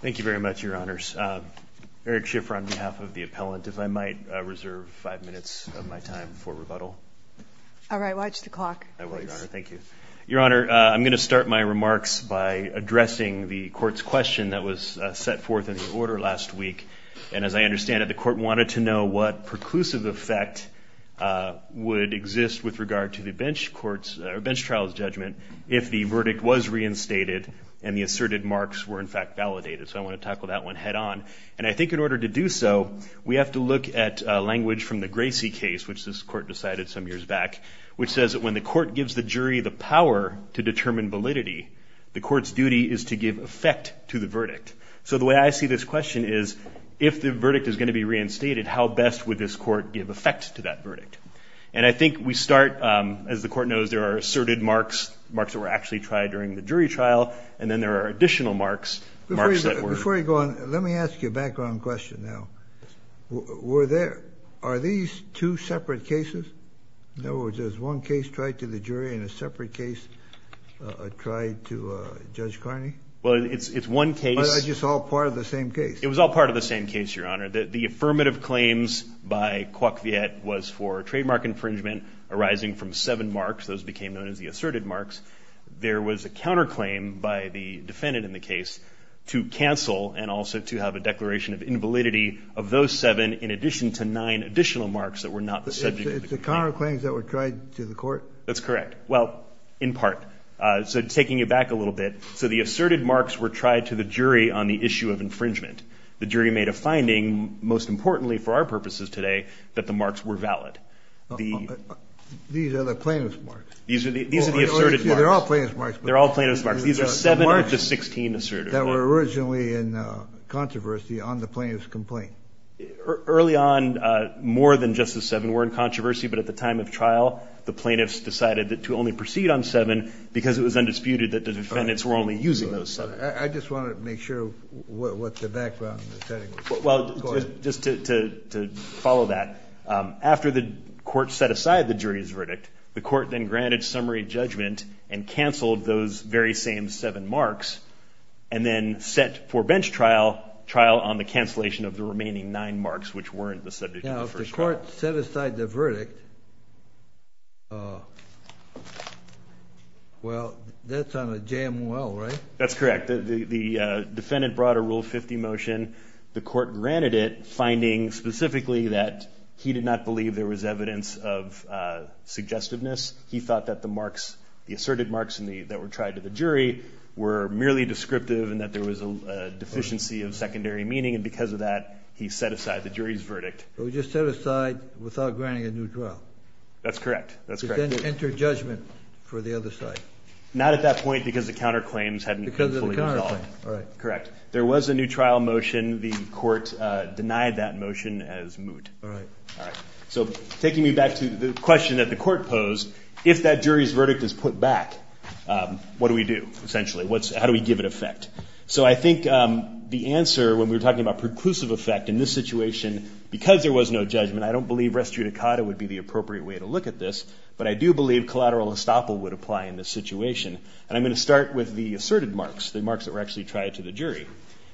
Thank you very much, Your Honors. Eric Schiffer, on behalf of the appellant, if I might reserve five minutes of my time for rebuttal. All right, watch the clock. I will, Your Honor. Thank you. Your Honor, I'm going to start my remarks by addressing the Court's question that was set forth in the order last week. And as I understand it, the Court wanted to know what preclusive effect would exist with regard to the bench trials judgment if the verdict was reinstated and the asserted marks were, in fact, validated. So I want to tackle that one head on. And I think in order to do so, we have to look at language from the Gracie case, which this Court decided some years back, which says that when the Court gives the jury the power to determine validity, the Court's duty is to give effect to the verdict. So the way I see this question is, if the verdict is going to be reinstated, how best would this Court give effect to that verdict? And I think we start, as the Court knows, there are asserted marks, marks that were actually tried during the jury trial, and then there are additional marks, marks that were – Before you go on, let me ask you a background question now. Were there – are these two separate cases? In other words, is one case tried to the jury and a separate case tried to Judge Carney? Well, it's one case – Or is it just all part of the same case? It was all part of the same case, Your Honor. The affirmative claims by Coivet was for trademark infringement arising from seven marks. Those became known as the asserted marks. There was a counterclaim by the defendant in the case to cancel and also to have a declaration of invalidity of those seven, in addition to nine additional marks that were not the subject of the claim. It's the counterclaims that were tried to the Court? That's correct. Well, in part. So taking it back a little bit, so the asserted marks were tried to the jury on the issue of infringement. The jury made a finding, most importantly for our purposes today, that the marks were valid. These are the plaintiff's marks? These are the asserted marks. They're all plaintiff's marks. They're all plaintiff's marks. These are seven of the 16 asserted marks. The marks that were originally in controversy on the plaintiff's complaint. Early on, more than just the seven were in controversy, but at the time of trial, the plaintiffs decided to only proceed on seven because it was undisputed that the defendants were only using those seven. I just wanted to make sure what the background setting was. Well, just to follow that, after the Court set aside the jury's verdict, the Court then granted summary judgment and canceled those very same seven marks and then set for bench trial, trial on the cancellation of the remaining nine marks which weren't the subject of the first trial. Now, if the Court set aside the verdict, well, that's on a JMOL, right? That's correct. The defendant brought a Rule 50 motion. The Court granted it, finding specifically that he did not believe there was evidence of suggestiveness. He thought that the asserted marks that were tried to the jury were merely descriptive and that there was a deficiency of secondary meaning, and because of that, he set aside the jury's verdict. So he just set aside without granting a new trial? That's correct. He then entered judgment for the other side? Not at that point because the counterclaims hadn't been fully resolved. Because of the counterclaim. Correct. There was a new trial motion. The Court denied that motion as moot. All right. All right. So taking me back to the question that the Court posed, if that jury's verdict is put back, what do we do, essentially? How do we give it effect? So I think the answer, when we were talking about preclusive effect in this situation, because there was no judgment, I don't believe res judicata would be the appropriate way to look at this. But I do believe collateral estoppel would apply in this situation. And I'm going to start with the asserted marks, the marks that were actually tried to the jury.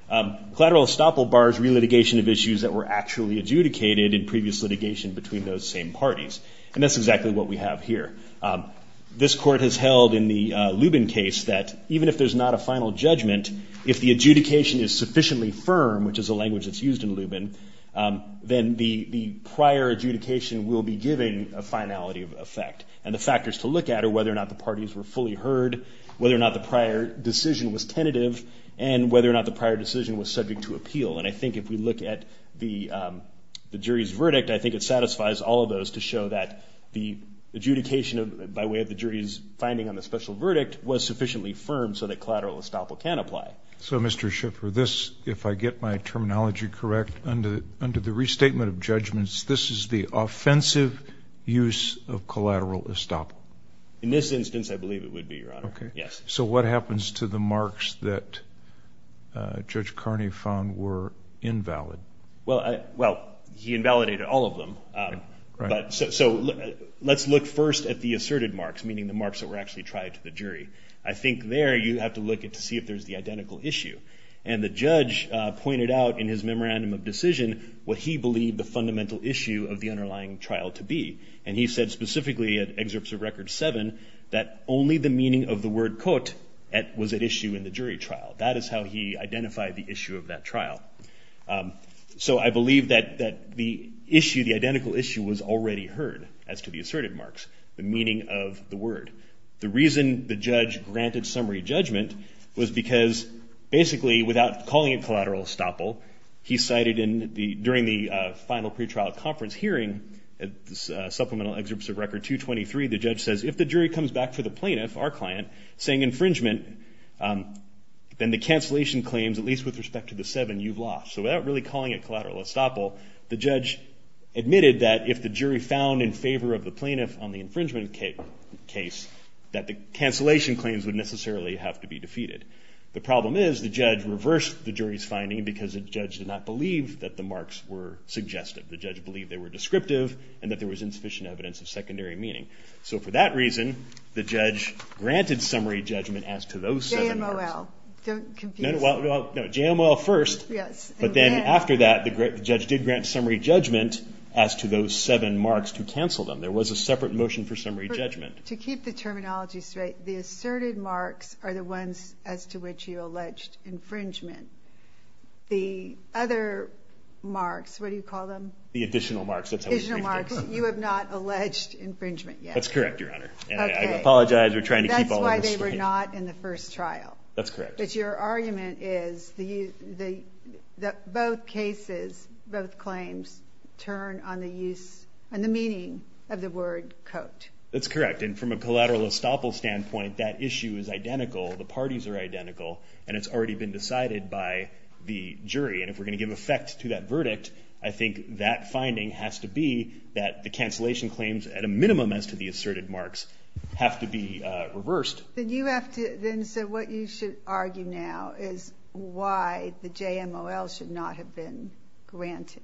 Collateral estoppel bars relitigation of issues that were actually adjudicated in previous litigation between those same parties. And that's exactly what we have here. This Court has held in the Lubin case that even if there's not a final judgment, if the adjudication is sufficiently firm, which is a language that's used in Lubin, then the prior adjudication will be giving a finality of effect. And the factors to look at are whether or not the parties were fully heard, whether or not the prior decision was tentative, and whether or not the prior decision was subject to appeal. And I think if we look at the jury's verdict, I think it satisfies all of those to show that the adjudication, by way of the jury's finding on the special verdict, was sufficiently firm so that collateral estoppel can apply. So, Mr. Schiffer, this, if I get my terminology correct, under the restatement of judgments, this is the offensive use of collateral estoppel? In this instance, I believe it would be, Your Honor. Okay. Yes. So what happens to the marks that Judge Carney found were invalid? Well, he invalidated all of them. Right. So let's look first at the asserted marks, meaning the marks that were actually tried to the jury. I think there you have to look to see if there's the identical issue. And the judge pointed out in his memorandum of decision what he believed the fundamental issue of the underlying trial to be. And he said specifically at Excerpts of Record 7 that only the meaning of the word kot was at issue in the jury trial. That is how he identified the issue of that trial. So I believe that the issue, the identical issue, was already heard as to the asserted marks, the meaning of the word. The reason the judge granted summary judgment was because basically without calling it collateral estoppel, he cited during the final pretrial conference hearing, Supplemental Excerpts of Record 223, the judge says if the jury comes back to the plaintiff, our client, saying infringement, then the cancellation claims, at least with respect to the seven, you've lost. So without really calling it collateral estoppel, the judge admitted that if the jury found in favor of the plaintiff on the infringement case that the cancellation claims would necessarily have to be defeated. The problem is the judge reversed the jury's finding because the judge did not believe that the marks were suggestive. The judge believed they were descriptive and that there was insufficient evidence of secondary meaning. So for that reason, the judge granted summary judgment as to those seven marks. JMOL. Don't confuse it. No, JMOL first. Yes. But then after that, the judge did grant summary judgment as to those seven marks to cancel them. There was a separate motion for summary judgment. To keep the terminology straight, the asserted marks are the ones as to which you alleged infringement. The other marks, what do you call them? The additional marks. Additional marks. You have not alleged infringement yet. That's correct, Your Honor. And I apologize. We're trying to keep all of this straight. That's why they were not in the first trial. That's correct. But your argument is that both cases, both claims, turn on the use and the meaning of the word coat. That's correct. And from a collateral estoppel standpoint, that issue is identical. The parties are identical. And it's already been decided by the jury. And if we're going to give effect to that verdict, I think that finding has to be that the cancellation claims at a minimum as to the asserted marks have to be reversed. Then you have to then say what you should argue now is why the JMOL should not have been granted.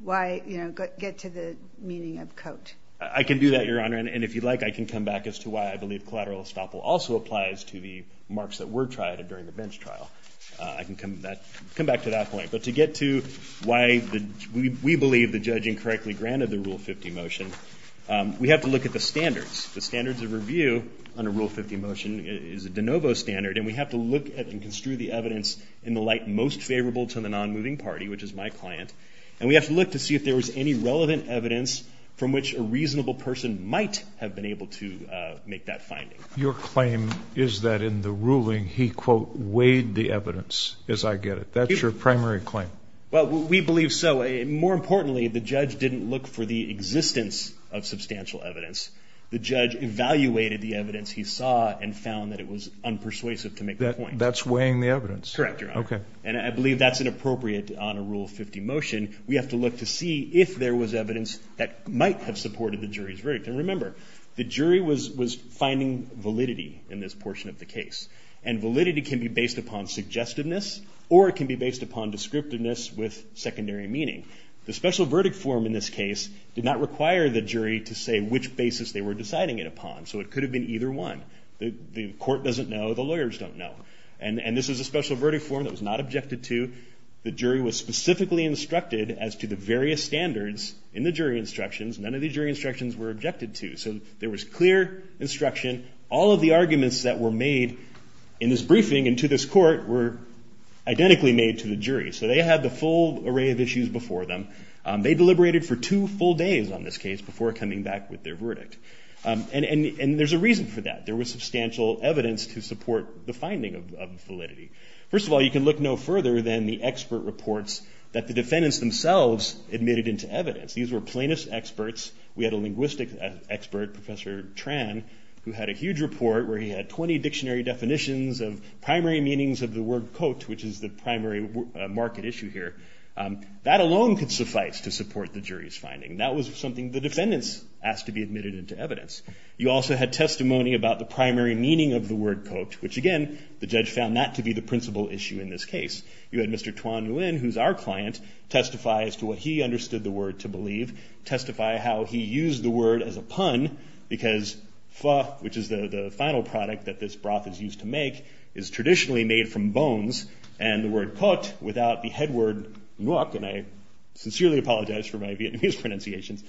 Why, you know, get to the meaning of coat. I can do that, Your Honor. And if you like, I can come back as to why I believe collateral estoppel also applies to the marks that were tried during the bench trial. I can come back to that point. But to get to why we believe the judge incorrectly granted the Rule 50 motion, we have to look at the standards. The standards of review under Rule 50 motion is a de novo standard. And we have to look at and construe the evidence in the light most favorable to the nonmoving party, which is my client. And we have to look to see if there was any relevant evidence from which a reasonable person might have been able to make that finding. Your claim is that in the ruling he, quote, weighed the evidence, as I get it. That's your primary claim. Well, we believe so. And more importantly, the judge didn't look for the existence of substantial evidence. The judge evaluated the evidence he saw and found that it was unpersuasive to make the point. That's weighing the evidence. Correct, Your Honor. Okay. And I believe that's inappropriate on a Rule 50 motion. We have to look to see if there was evidence that might have supported the jury's verdict. And remember, the jury was finding validity in this portion of the case. And validity can be based upon suggestiveness or it can be based upon descriptiveness with secondary meaning. The special verdict form in this case did not require the jury to say which basis they were deciding it upon. So it could have been either one. The court doesn't know. The lawyers don't know. And this is a special verdict form that was not objected to. The jury was specifically instructed as to the various standards in the jury instructions. None of the jury instructions were objected to. So there was clear instruction. All of the arguments that were made in this briefing and to this court were identically made to the jury. So they had the full array of issues before them. They deliberated for two full days on this case before coming back with their verdict. And there's a reason for that. There was substantial evidence to support the finding of validity. First of all, you can look no further than the expert reports that the defendants themselves admitted into evidence. These were plaintiff's experts. We had a linguistic expert, Professor Tran, who had a huge report where he had 20 dictionary definitions of primary meanings of the word coat, which is the primary market issue here. That alone could suffice to support the jury's finding. That was something the defendants asked to be admitted into evidence. You also had testimony about the primary meaning of the word coat, which, again, the judge found not to be the principal issue in this case. You had Mr. Tuan Nguyen, who's our client, testify as to what he understood the word to believe, testify how he used the word as a pun because pho, which is the final product that this broth is used to make, is traditionally made from bones. And the word coat, without the head word nuoc, and I sincerely apologize for my Vietnamese pronunciations,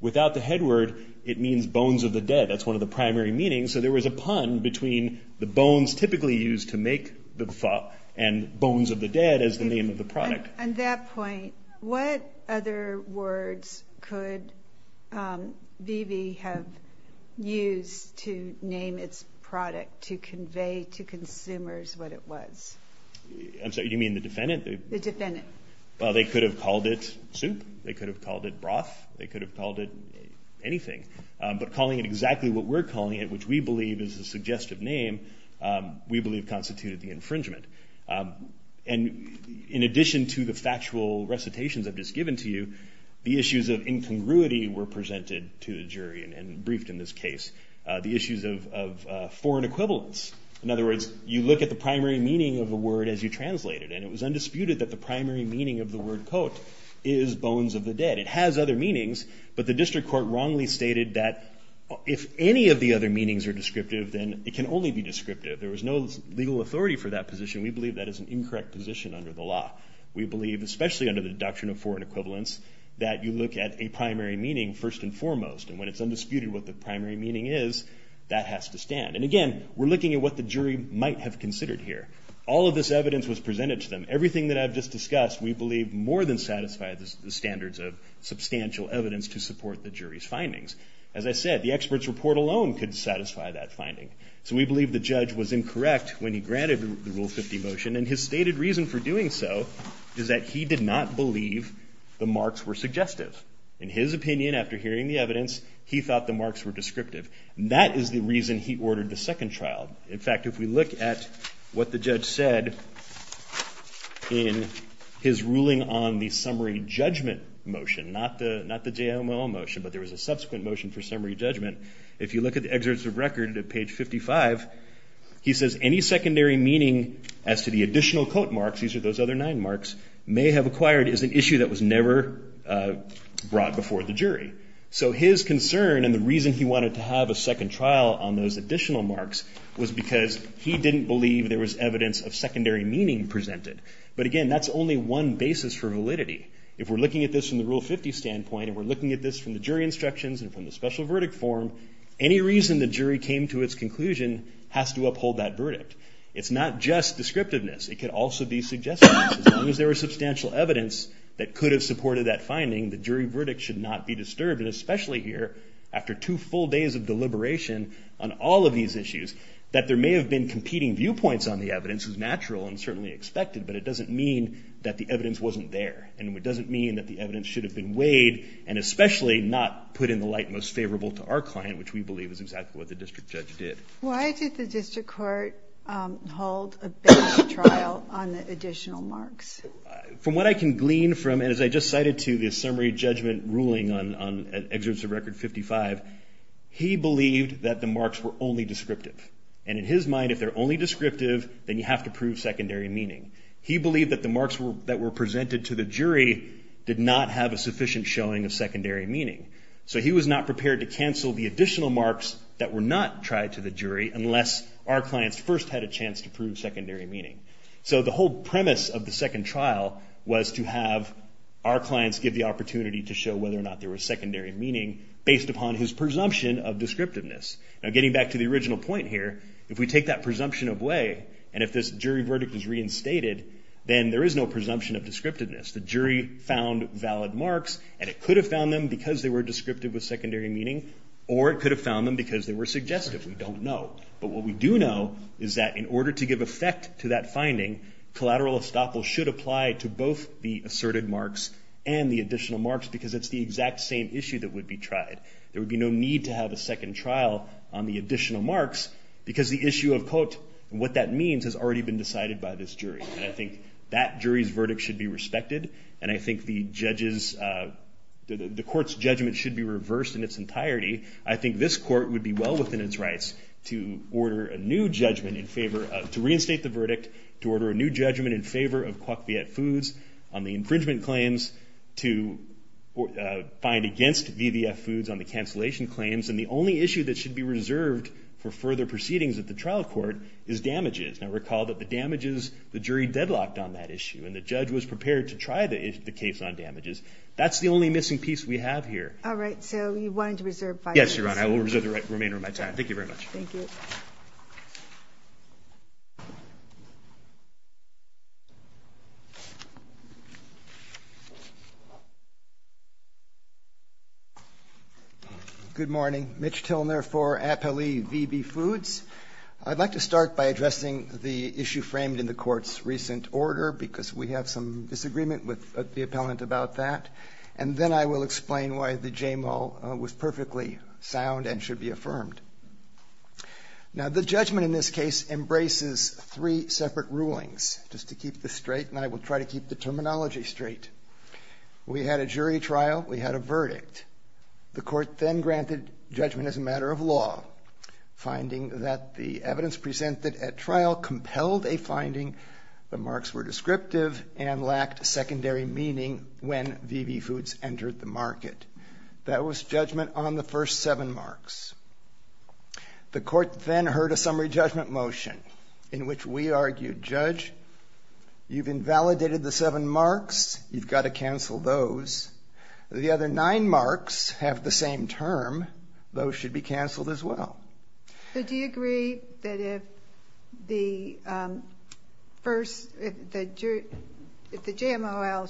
without the head word, it means bones of the dead. That's one of the primary meanings. So there was a pun between the bones typically used to make the pho and bones of the dead as the name of the product. On that point, what other words could Vivi have used to name its product to convey to consumers what it was? I'm sorry, you mean the defendant? The defendant. Well, they could have called it soup. They could have called it broth. They could have called it anything. But calling it exactly what we're calling it, which we believe is a suggestive name, we believe constituted the infringement. And in addition to the factual recitations I've just given to you, the issues of incongruity were presented to the jury and briefed in this case, the issues of foreign equivalence. In other words, you look at the primary meaning of the word as you translate it, and it was undisputed that the primary meaning of the word coat is bones of the dead. It has other meanings, but the district court wrongly stated that if any of the other meanings are descriptive, then it can only be descriptive. There was no legal authority for that position. We believe that is an incorrect position under the law. We believe, especially under the doctrine of foreign equivalence, that you look at a primary meaning first and foremost. And when it's undisputed what the primary meaning is, that has to stand. And again, we're looking at what the jury might have considered here. All of this evidence was presented to them. Everything that I've just discussed, we believe, more than satisfied the standards of substantial evidence to support the jury's findings. As I said, the expert's report alone could satisfy that finding. So we believe the judge was incorrect when he granted the Rule 50 motion, and his stated reason for doing so is that he did not believe the marks were suggestive. In his opinion, after hearing the evidence, he thought the marks were descriptive. That is the reason he ordered the second trial. In fact, if we look at what the judge said in his ruling on the summary judgment motion, not the JOMO motion, but there was a subsequent motion for summary judgment, if you look at the excerpts of record at page 55, he says, any secondary meaning as to the additional quote marks, these are those other nine marks, may have acquired is an issue that was never brought before the jury. So his concern and the reason he wanted to have a second trial on those additional marks was because he didn't believe there was evidence of secondary meaning presented. But again, that's only one basis for validity. If we're looking at this from the Rule 50 standpoint, and we're looking at this from the jury instructions and from the special verdict form, any reason the jury came to its conclusion has to uphold that verdict. It's not just descriptiveness. It could also be suggestiveness. As long as there was substantial evidence that could have supported that finding, the jury verdict should not be disturbed, and especially here, after two full days of deliberation on all of these issues, that there may have been competing viewpoints on the evidence is natural and certainly expected, but it doesn't mean that the evidence wasn't there, and it doesn't mean that the evidence should have been weighed and especially not put in the light most favorable to our client, which we believe is exactly what the district judge did. Why did the district court hold a bench trial on the additional marks? From what I can glean from, and as I just cited to the summary judgment ruling on Excerpts of Record 55, he believed that the marks were only descriptive. And in his mind, if they're only descriptive, then you have to prove secondary meaning. He believed that the marks that were presented to the jury did not have a sufficient showing of secondary meaning. So he was not prepared to cancel the additional marks that were not tried to the jury unless our clients first had a chance to prove secondary meaning. So the whole premise of the second trial was to have our clients give the opportunity to show whether or not there was secondary meaning based upon his presumption of descriptiveness. Now getting back to the original point here, if we take that presumption of way, and if this jury verdict is reinstated, then there is no presumption of descriptiveness. The jury found valid marks, and it could have found them because they were descriptive with secondary meaning, or it could have found them because they were suggestive. We don't know. But what we do know is that in order to give effect to that finding, collateral estoppel should apply to both the asserted marks and the additional marks because it's the exact same issue that would be tried. There would be no need to have a second trial on the additional marks because the issue of what that means has already been decided by this jury. And I think that jury's verdict should be respected, and I think the court's judgment should be reversed in its entirety. I think this court would be well within its rights to reinstate the verdict, to order a new judgment in favor of Coq Viet Foods on the infringement claims, to find against VVF Foods on the cancellation claims. And the only issue that should be reserved for further proceedings at the trial court is damages. Now recall that the damages, the jury deadlocked on that issue, and the judge was prepared to try the case on damages. That's the only missing piece we have here. All right. So you wanted to reserve five minutes. Yes, Your Honor. I will reserve the remainder of my time. Thank you very much. Thank you. Thank you. Good morning. Mitch Tilner for appellee VB Foods. I'd like to start by addressing the issue framed in the court's recent order, because we have some disagreement with the appellant about that. And then I will explain why the JMO was perfectly sound and should be affirmed. Now the judgment in this case embraces three separate rulings, just to keep this straight, and I will try to keep the terminology straight. We had a jury trial. We had a verdict. The court then granted judgment as a matter of law, finding that the evidence presented at trial compelled a finding, the marks were descriptive, and lacked secondary meaning when VB Foods entered the market. That was judgment on the first seven marks. The court then heard a summary judgment motion in which we argued, Judge, you've invalidated the seven marks. You've got to cancel those. The other nine marks have the same term. Those should be canceled as well. So do you agree that if the JMOL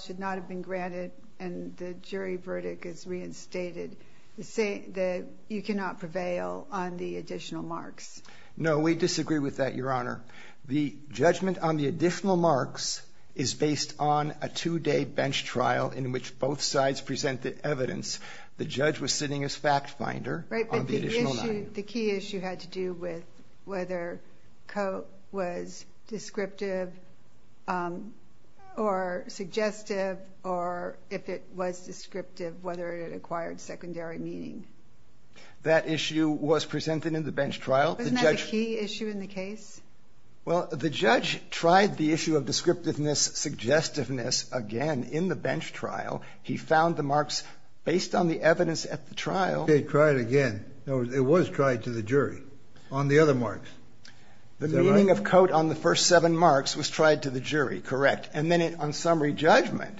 should not have been granted and the jury verdict is reinstated, you cannot prevail on the additional marks? No, we disagree with that, Your Honor. The judgment on the additional marks is based on a two-day bench trial in which both sides presented evidence. The judge was sitting as fact finder on the additional nine. The key issue had to do with whether Coke was descriptive or suggestive or if it was descriptive, whether it acquired secondary meaning. That issue was presented in the bench trial. Wasn't that a key issue in the case? Well, the judge tried the issue of descriptiveness, suggestiveness again in the bench trial. Okay, tried again. It was tried to the jury on the other marks. Is that right? The meaning of coat on the first seven marks was tried to the jury, correct. And then on summary judgment,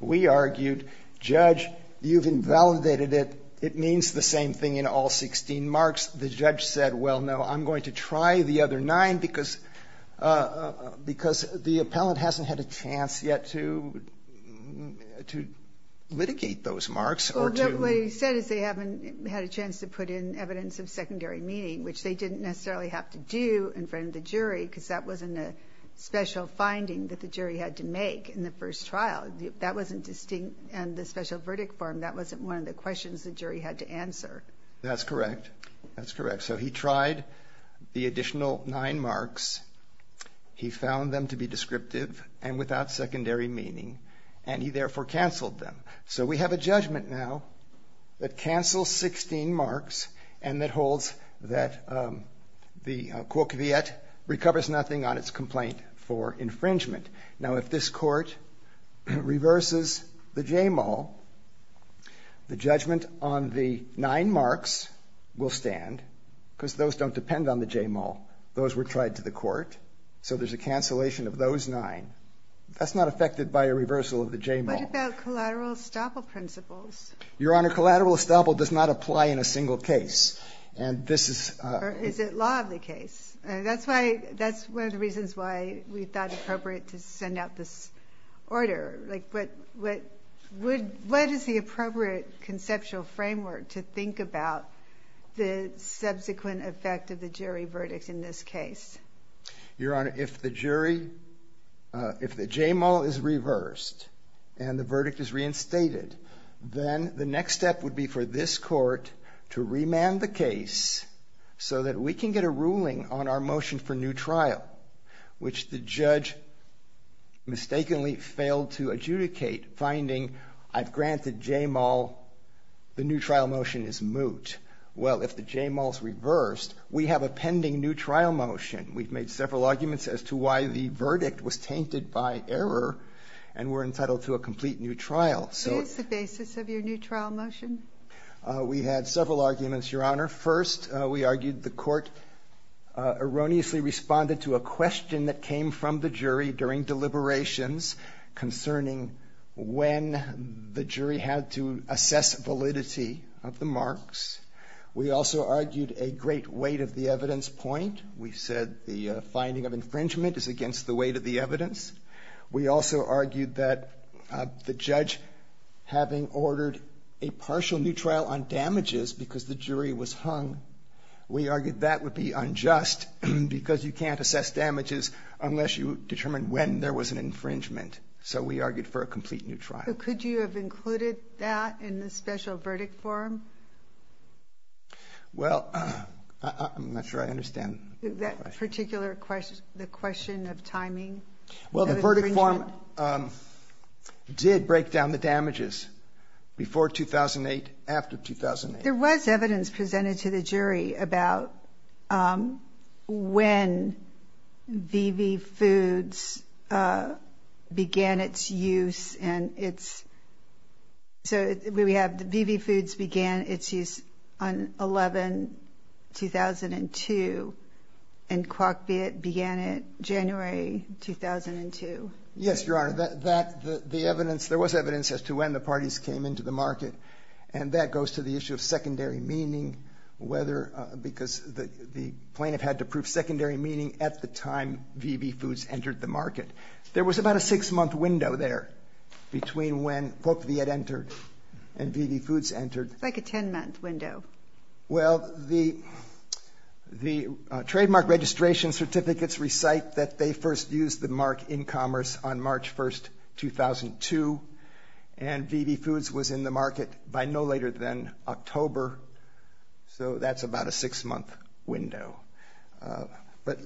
we argued, Judge, you've invalidated it. It means the same thing in all 16 marks. The judge said, well, no, I'm going to try the other nine because the appellant What he said is they haven't had a chance to put in evidence of secondary meaning, which they didn't necessarily have to do in front of the jury because that wasn't a special finding that the jury had to make in the first trial. That wasn't distinct in the special verdict form. That wasn't one of the questions the jury had to answer. That's correct. That's correct. So he tried the additional nine marks. He found them to be descriptive and without secondary meaning, and he therefore canceled them. So we have a judgment now that cancels 16 marks and that holds that the court recovers nothing on its complaint for infringement. Now, if this Court reverses the JMAL, the judgment on the nine marks will stand because those don't depend on the JMAL. Those were tried to the Court. So there's a cancellation of those nine. That's not affected by a reversal of the JMAL. What about collateral estoppel principles? Your Honor, collateral estoppel does not apply in a single case. Or is it law of the case? That's one of the reasons why we thought appropriate to send out this order. What is the appropriate conceptual framework to think about the subsequent effect of the jury verdict in this case? Your Honor, if the jury, if the JMAL is reversed and the verdict is reinstated, then the next step would be for this Court to remand the case so that we can get a ruling on our motion for new trial, which the judge mistakenly failed to adjudicate, finding I've granted JMAL, the new trial motion is moot. Well, if the JMAL is reversed, we have a pending new trial motion. We've made several arguments as to why the verdict was tainted by error and we're entitled to a complete new trial. So it's the basis of your new trial motion. We had several arguments, Your Honor. First, we argued the Court erroneously responded to a question that came from the jury during deliberations concerning when the jury had to assess validity of the marks. We also argued a great weight of the evidence point. We said the finding of infringement is against the weight of the evidence. We also argued that the judge, having ordered a partial new trial on damages because the jury was hung, we argued that would be unjust because you can't assess damages unless you determine when there was an infringement. So we argued for a complete new trial. But could you have included that in the special verdict form? Well, I'm not sure I understand. That particular question, the question of timing? Well, the verdict form did break down the damages before 2008, after 2008. There was evidence presented to the jury about when VV Foods began its use and its so we have VV Foods began its use on 11, 2002, and Crockbitt began it January 2002. Yes, Your Honor. The evidence, there was evidence as to when the parties came into the market, and that goes to the issue of secondary meaning, because the plaintiff had to prove secondary meaning at the time VV Foods entered the market. There was about a six-month window there between when POCV had entered and VV Foods entered. It's like a 10-month window. Well, the trademark registration certificates recite that they first used the mark in commerce on March 1, 2002, and VV Foods was in the market by no later than October. So that's about a six-month window. But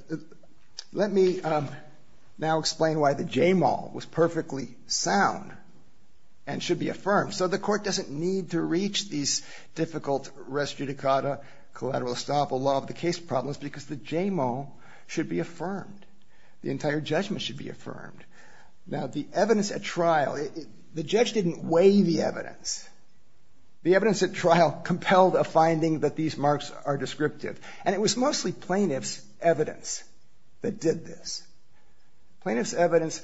let me now explain why the JMO was perfectly sound and should be affirmed. So the court doesn't need to reach these difficult res judicata collateral estoppel law of the case problems because the JMO should be affirmed. The entire judgment should be affirmed. Now, the evidence at trial, the judge didn't weigh the evidence. The evidence at trial compelled a finding that these marks are descriptive, and it was mostly plaintiff's evidence that did this. Plaintiff's evidence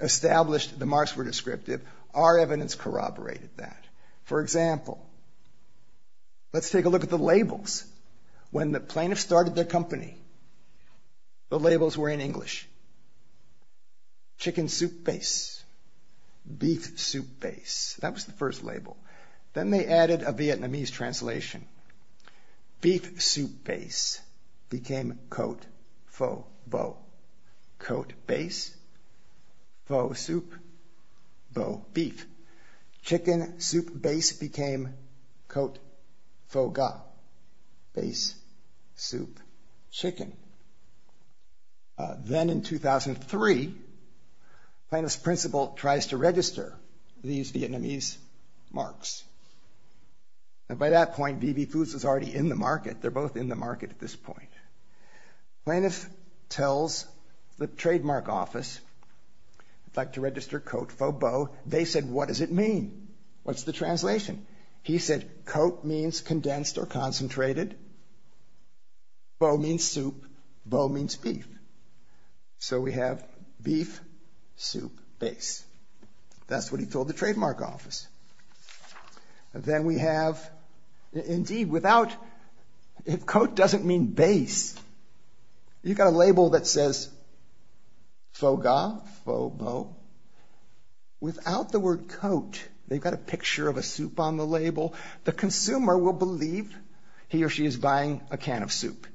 established the marks were descriptive. Our evidence corroborated that. For example, let's take a look at the labels. When the plaintiff started their company, the labels were in English. Chicken soup base. Beef soup base. That was the first label. Then they added a Vietnamese translation. Beef soup base became coat faux beau. Coat base, faux soup, faux beef. Chicken soup base became coat faux ga. Base, soup, chicken. Then in 2003, plaintiff's principal tries to register these Vietnamese marks. And by that point, BB Foods was already in the market. They're both in the market at this point. Plaintiff tells the trademark office, I'd like to register coat faux beau. They said, what does it mean? What's the translation? He said, coat means condensed or concentrated. Beau means soup. Beau means beef. So we have beef soup base. That's what he told the trademark office. Then we have, indeed, without, if coat doesn't mean base, you've got a label that says faux ga, faux beau. Without the word coat, they've got a picture of a soup on the label. The consumer will believe he or she is buying a can of soup.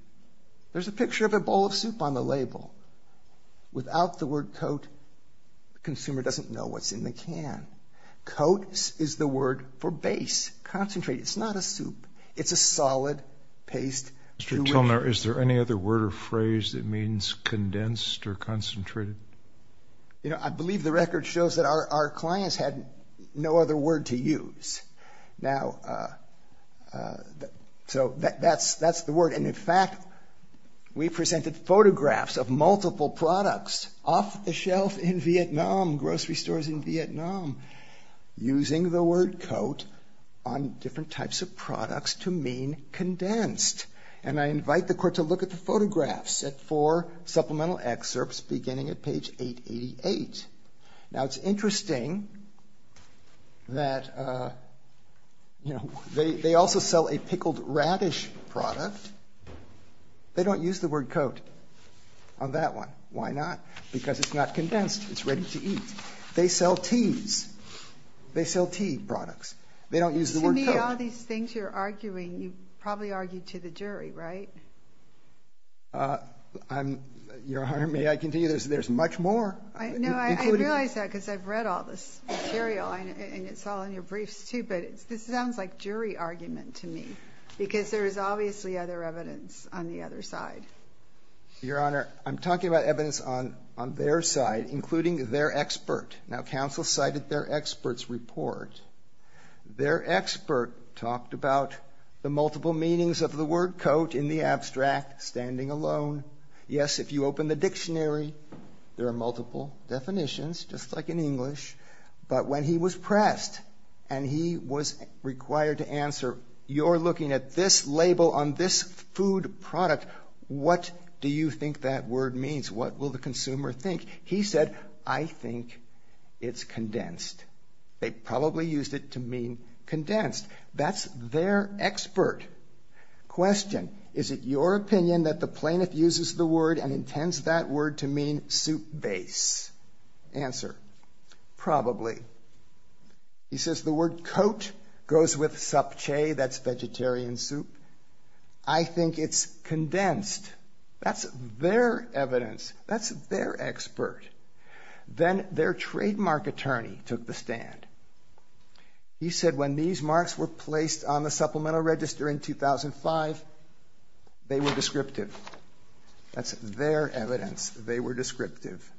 There's a picture of a bowl of soup on the label. Without the word coat, the consumer doesn't know what's in the can. Coat is the word for base, concentrated. It's not a soup. It's a solid paste. Mr. Tilner, is there any other word or phrase that means condensed or concentrated? You know, I believe the record shows that our clients had no other word to use. Now, so that's the word. And, in fact, we presented photographs of multiple products off the shelf in Vietnam, grocery stores in Vietnam, using the word coat on different types of products to mean condensed. And I invite the court to look at the photographs at four supplemental excerpts beginning at page 888. Now, it's interesting that, you know, they also sell a pickled radish product. They don't use the word coat on that one. Why not? Because it's not condensed. It's ready to eat. They sell teas. They sell tea products. They don't use the word coat. To me, all these things you're arguing, you probably argued to the jury, right? Your Honor, may I continue? There's much more. No, I realize that because I've read all this material, and it's all in your briefs, too. But this sounds like jury argument to me because there is obviously other evidence on the other side. Your Honor, I'm talking about evidence on their side, including their expert. Now, counsel cited their expert's report. Their expert talked about the multiple meanings of the word coat in the abstract, standing alone. Yes, if you open the dictionary, there are multiple definitions, just like in English. But when he was pressed and he was required to answer, you're looking at this label on this food product. What do you think that word means? What will the consumer think? He said, I think it's condensed. They probably used it to mean condensed. That's their expert. Question, is it your opinion that the plaintiff uses the word and intends that word to mean soup base? Answer, probably. He says the word coat goes with subchae, that's vegetarian soup. I think it's condensed. That's their evidence. That's their expert. Then their trademark attorney took the stand. He said when these marks were placed on the supplemental register in 2005, they were descriptive. That's their evidence. They were descriptive.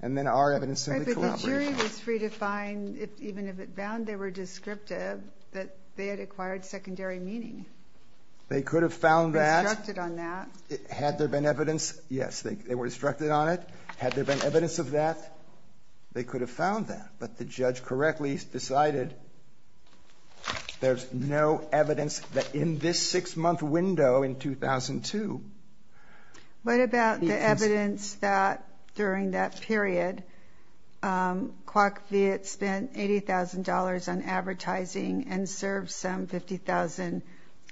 And then our evidence simply collaborated. But the jury was free to find, even if it found they were descriptive, that they had acquired secondary meaning. They could have found that. They were instructed on that. Had there been evidence, yes, they were instructed on it. Had there been evidence of that, they could have found that. But the judge correctly decided there's no evidence that in this six-month window in 2002. What about the evidence that during that period, Kwak Viet spent $80,000 on advertising and served some 50,000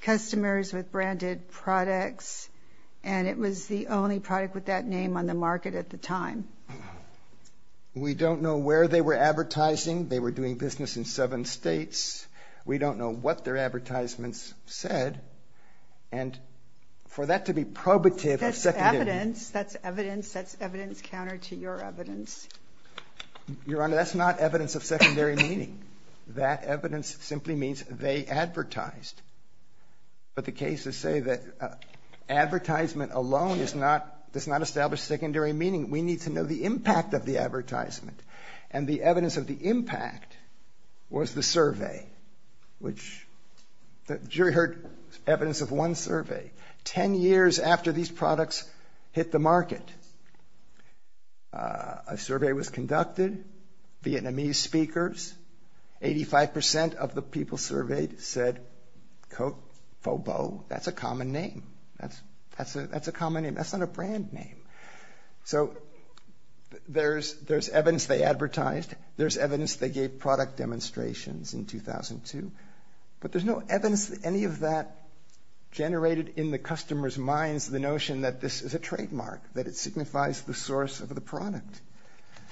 customers with branded products, and it was the only product with that name on the market at the time? We don't know where they were advertising. They were doing business in seven states. We don't know what their advertisements said. And for that to be probative or secondary. That's evidence. That's evidence. That's evidence counter to your evidence. Your Honor, that's not evidence of secondary meaning. That evidence simply means they advertised. But the cases say that advertisement alone does not establish secondary meaning. We need to know the impact of the advertisement. And the evidence of the impact was the survey, which the jury heard evidence of one survey. Ten years after these products hit the market, a survey was conducted. Vietnamese speakers, 85% of the people surveyed said, quote, Fobo. That's a common name. That's a common name. That's not a brand name. So there's evidence they advertised. There's evidence they gave product demonstrations in 2002. But there's no evidence that any of that generated in the customers' minds the notion that this is a trademark, that it signifies the source of the product.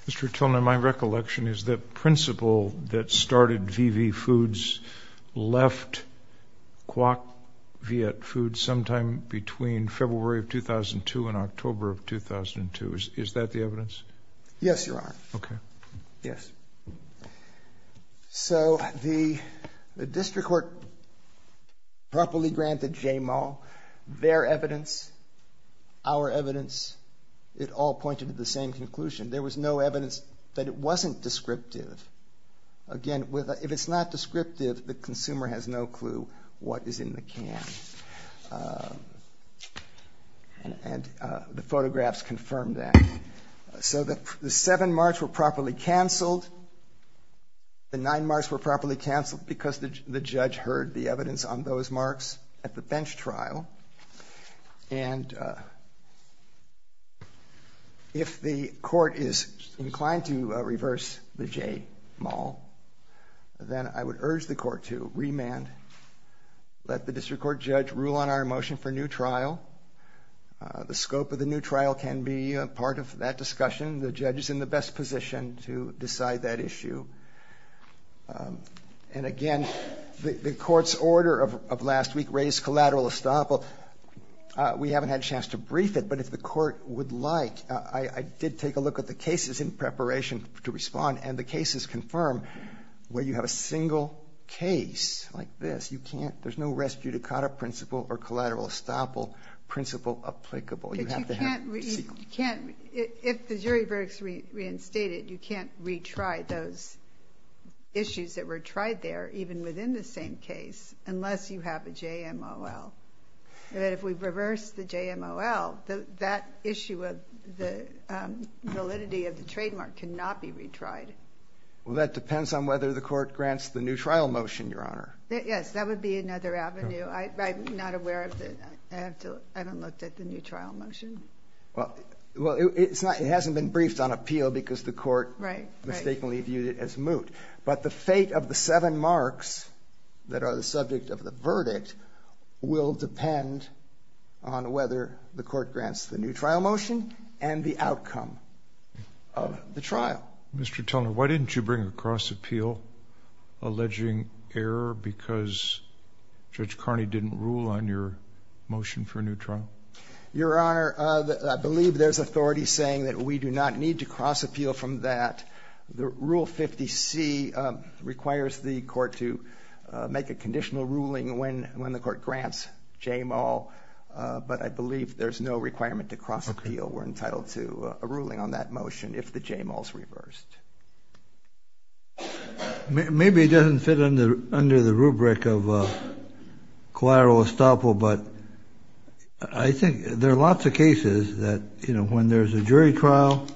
Mr. Tillman, my recollection is the principal that started VV Foods left Quoc Viet Foods sometime between February of 2002 and October of 2002. Is that the evidence? Yes, Your Honor. Okay. Yes. So the district court properly granted J-Mon their evidence, our evidence. It all pointed to the same conclusion. There was no evidence that it wasn't descriptive. Again, if it's not descriptive, the consumer has no clue what is in the can. And the photographs confirm that. So the seven marks were properly canceled. The nine marks were properly canceled because the judge heard the evidence on those marks at the bench trial. And if the court is inclined to reverse the J-Mon, then I would urge the court to remand, let the district court judge rule on our motion for new trial. The scope of the new trial can be part of that discussion. The judge is in the best position to decide that issue. And, again, the court's order of last week raised collateral estoppel. We haven't had a chance to brief it, but if the court would like, I did take a look at the cases in preparation to respond, and the cases confirm where you have a single case like this, you can't, there's no res judicata principle or collateral estoppel principle applicable. If the jury verdict is reinstated, you can't retry those issues that were tried there, even within the same case, unless you have a J-M-O-L. And if we reverse the J-M-O-L, that issue of the validity of the trademark cannot be retried. Well, that depends on whether the court grants the new trial motion, Your Honor. Yes, that would be another avenue. I'm not aware of the, I haven't looked at the new trial motion. Well, it hasn't been briefed on appeal because the court mistakenly viewed it as moot. But the fate of the seven marks that are the subject of the verdict will depend on whether the court grants the new trial motion and the outcome of the trial. Mr. Tellner, why didn't you bring a cross-appeal alleging error because Judge Carney didn't rule on your motion for a new trial? Your Honor, I believe there's authority saying that we do not need to cross-appeal from that. Rule 50C requires the court to make a conditional ruling when the court grants J-M-O-L, but I believe there's no requirement to cross-appeal. We're entitled to a ruling on that motion if the J-M-O-L is reversed. Maybe it doesn't fit under the rubric of collateral estoppel, but I think there are lots of cases that, you know, when there's a jury trial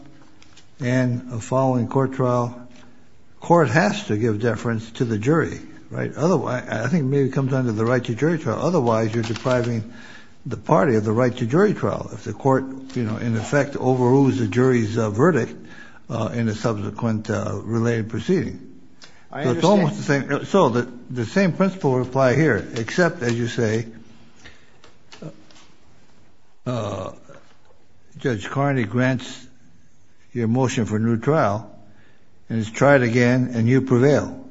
and a following court trial, court has to give deference to the jury, right? I think maybe it comes down to the right to jury trial. Otherwise, you're depriving the party of the right to jury trial. If the court, you know, in effect overrules the jury's verdict in a subsequent related proceeding. I understand. So the same principle would apply here, except, as you say, Judge Carney grants your motion for a new trial, and it's tried again, and you prevail.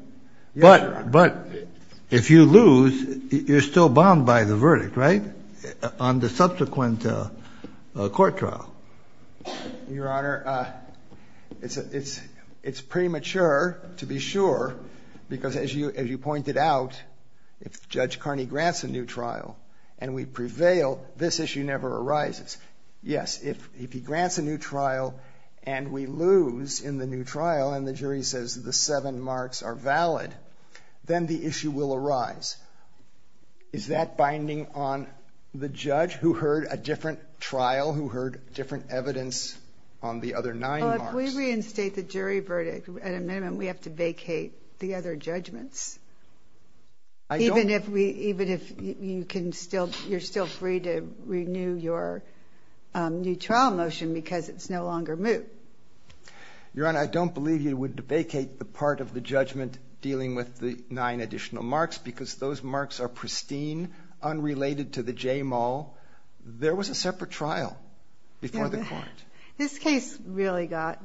But if you lose, you're still bound by the verdict, right? On the subsequent court trial. Your Honor, it's premature to be sure, because as you pointed out, if Judge Carney grants a new trial and we prevail, this issue never arises. Yes. If he grants a new trial and we lose in the new trial and the jury says the seven marks are valid, then the issue will arise. Is that binding on the judge who heard a different trial, who heard different evidence on the other nine marks? Well, if we reinstate the jury verdict at a minimum, we have to vacate the other judgments. I don't. Even if you can still, you're still free to renew your new trial motion, because it's no longer moot. Your Honor, I don't believe you would vacate the part of the judgment dealing with the nine additional marks, because those marks are pristine, unrelated to the J. Mull. There was a separate trial before the court. This case really got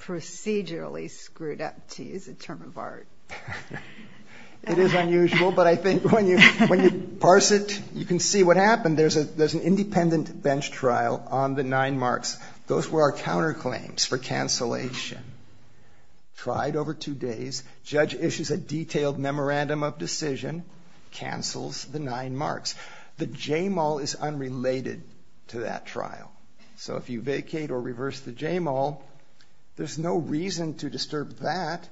procedurally screwed up, to use a term of art. It is unusual, but I think when you parse it, you can see what happened. There's an independent bench trial on the nine marks. Those were our counterclaims for cancellation. Tried over two days, judge issues a detailed memorandum of decision, cancels the nine marks. The J. Mull is unrelated to that trial. So if you vacate or reverse the J. Mull, there's no reason to disturb that.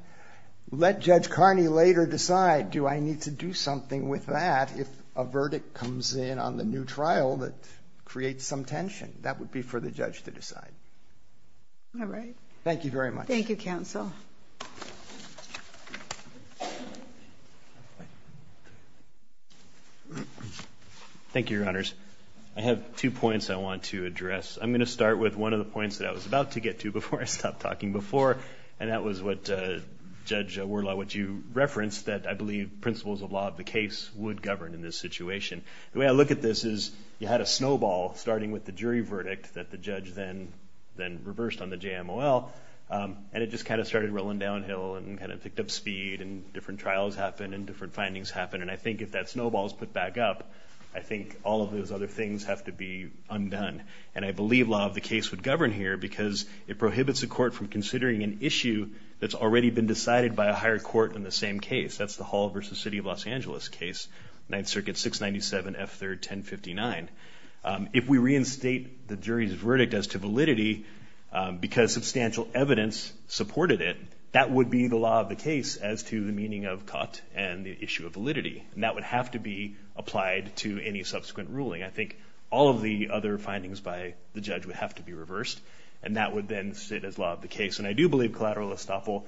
Let Judge Carney later decide, do I need to do something with that if a verdict comes in on the new trial that creates some tension? That would be for the judge to decide. All right. Thank you very much. Thank you, counsel. Thank you, Your Honors. I have two points I want to address. I'm going to start with one of the points that I was about to get to before I stopped talking before, and that was what Judge Wurlau, what you referenced, that I believe principles of law of the case would govern in this situation. The way I look at this is you had a snowball starting with the jury verdict that the judge then reversed on the J. Mull, and it just kind of started rolling downhill and kind of picked up speed and different trials happened and different findings happened. And I think if that snowball is put back up, I think all of those other things have to be undone. And I believe law of the case would govern here because it prohibits a court from considering an issue that's already been decided by a higher court in the same case. That's the Hall v. City of Los Angeles case, Ninth Circuit 697 F3rd 1059. If we reinstate the jury's verdict as to validity because substantial evidence supported it, that would be the law of the case as to the meaning of cut and the issue of validity. And that would have to be applied to any subsequent ruling. I think all of the other findings by the judge would have to be reversed, and that would then sit as law of the case. And I do believe collateral estoppel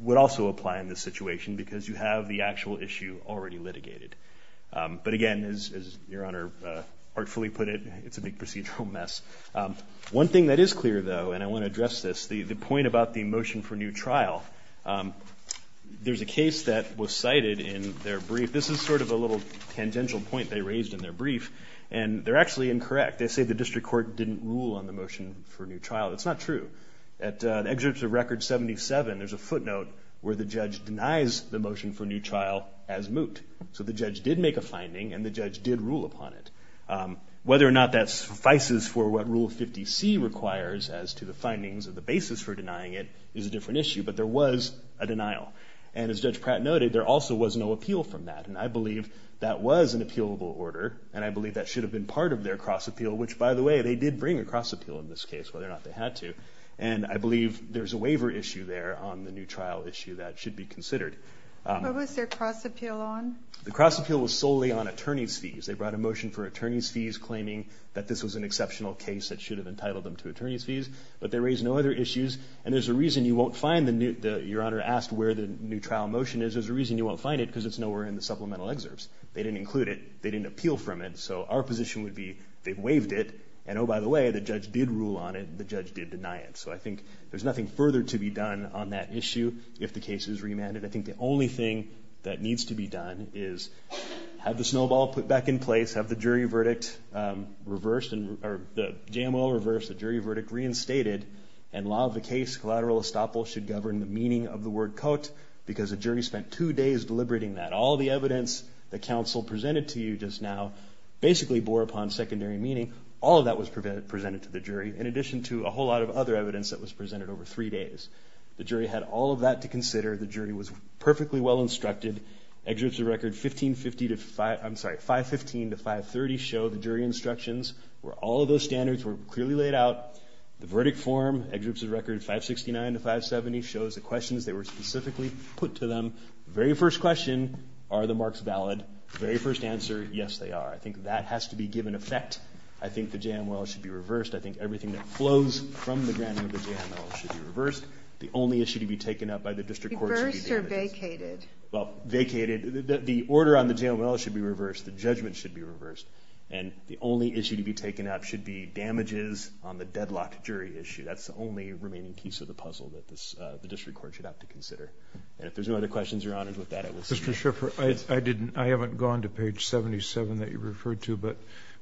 would also apply in this situation because you have the actual issue already litigated. But again, as Your Honor artfully put it, it's a big procedural mess. One thing that is clear, though, and I want to address this, the point about the motion for new trial. There's a case that was cited in their brief. This is sort of a little tangential point they raised in their brief, and they're actually incorrect. They say the district court didn't rule on the motion for new trial. That's not true. At excerpts of Record 77, there's a footnote where the judge denies the motion for new trial as moot. So the judge did make a finding, and the judge did rule upon it. Whether or not that suffices for what Rule 50C requires as to the findings of the basis for denying it is a different issue. But there was a denial. And as Judge Pratt noted, there also was no appeal from that. And I believe that was an appealable order, and I believe that should have been part of their cross appeal, which, by the way, they did bring a cross appeal in this case, whether or not they had to. And I believe there's a waiver issue there on the new trial issue that should be considered. What was their cross appeal on? The cross appeal was solely on attorney's fees. They brought a motion for attorney's fees, claiming that this was an exceptional case that should have entitled them to attorney's fees. But they raised no other issues. And there's a reason you won't find the new – your Honor asked where the new trial motion is. There's a reason you won't find it, because it's nowhere in the supplemental excerpts. They didn't include it. They didn't appeal from it. So our position would be they waived it, and, oh, by the way, the judge did rule on it. The judge did deny it. So I think there's nothing further to be done on that issue if the case is remanded. I think the only thing that needs to be done is have the snowball put back in place, have the jury verdict reversed, or the JMO reversed, the jury verdict reinstated, and law of the case collateral estoppel should govern the meaning of the word cote, because the jury spent two days deliberating that. All the evidence that counsel presented to you just now basically bore upon secondary meaning. All of that was presented to the jury, in addition to a whole lot of other evidence that was presented over three days. The jury had all of that to consider. The jury was perfectly well instructed. Excerpts of record 1550 to – I'm sorry, 515 to 530 show the jury instructions where all of those standards were clearly laid out. The verdict form, excerpts of record 569 to 570, shows the questions that were specifically put to them. The very first question, are the marks valid? The very first answer, yes, they are. I think that has to be given effect. I think the JMO should be reversed. I think everything that flows from the granting of the JMO should be reversed. The only issue to be taken up by the district court should be damages. Reversed or vacated? Well, vacated. The order on the JMO should be reversed. The judgment should be reversed. And the only issue to be taken up should be damages on the deadlocked jury issue. That's the only remaining piece of the puzzle that the district court should have to consider. And if there's no other questions, Your Honor, with that, I will see you. Mr. Schiffer, I didn't – I haven't gone to page 77 that you referred to, but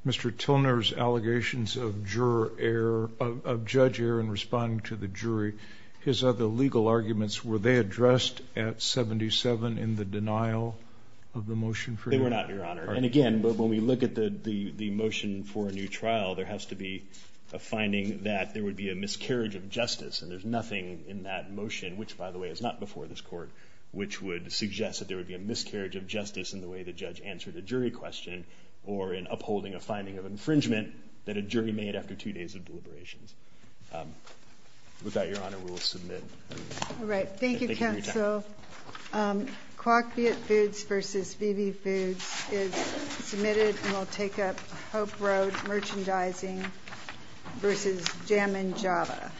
Mr. Tilner's allegations of juror error – of judge error in responding to the jury, his other legal arguments, were they addressed at 77 in the denial of the motion for you? They were not, Your Honor. And again, when we look at the motion for a new trial, there has to be a finding that there would be a miscarriage of justice, and there's nothing in that motion, which, by the way, is not before this court, which would suggest that there would be a miscarriage of justice in the way the judge answered a jury question or in upholding a finding of infringement that a jury made after two days of deliberations. With that, Your Honor, we will submit. All right. Thank you, counsel. CWOC Viet Foods v. VB Foods is submitted and will take up Hope Road Merchandising v. Jammin' Java.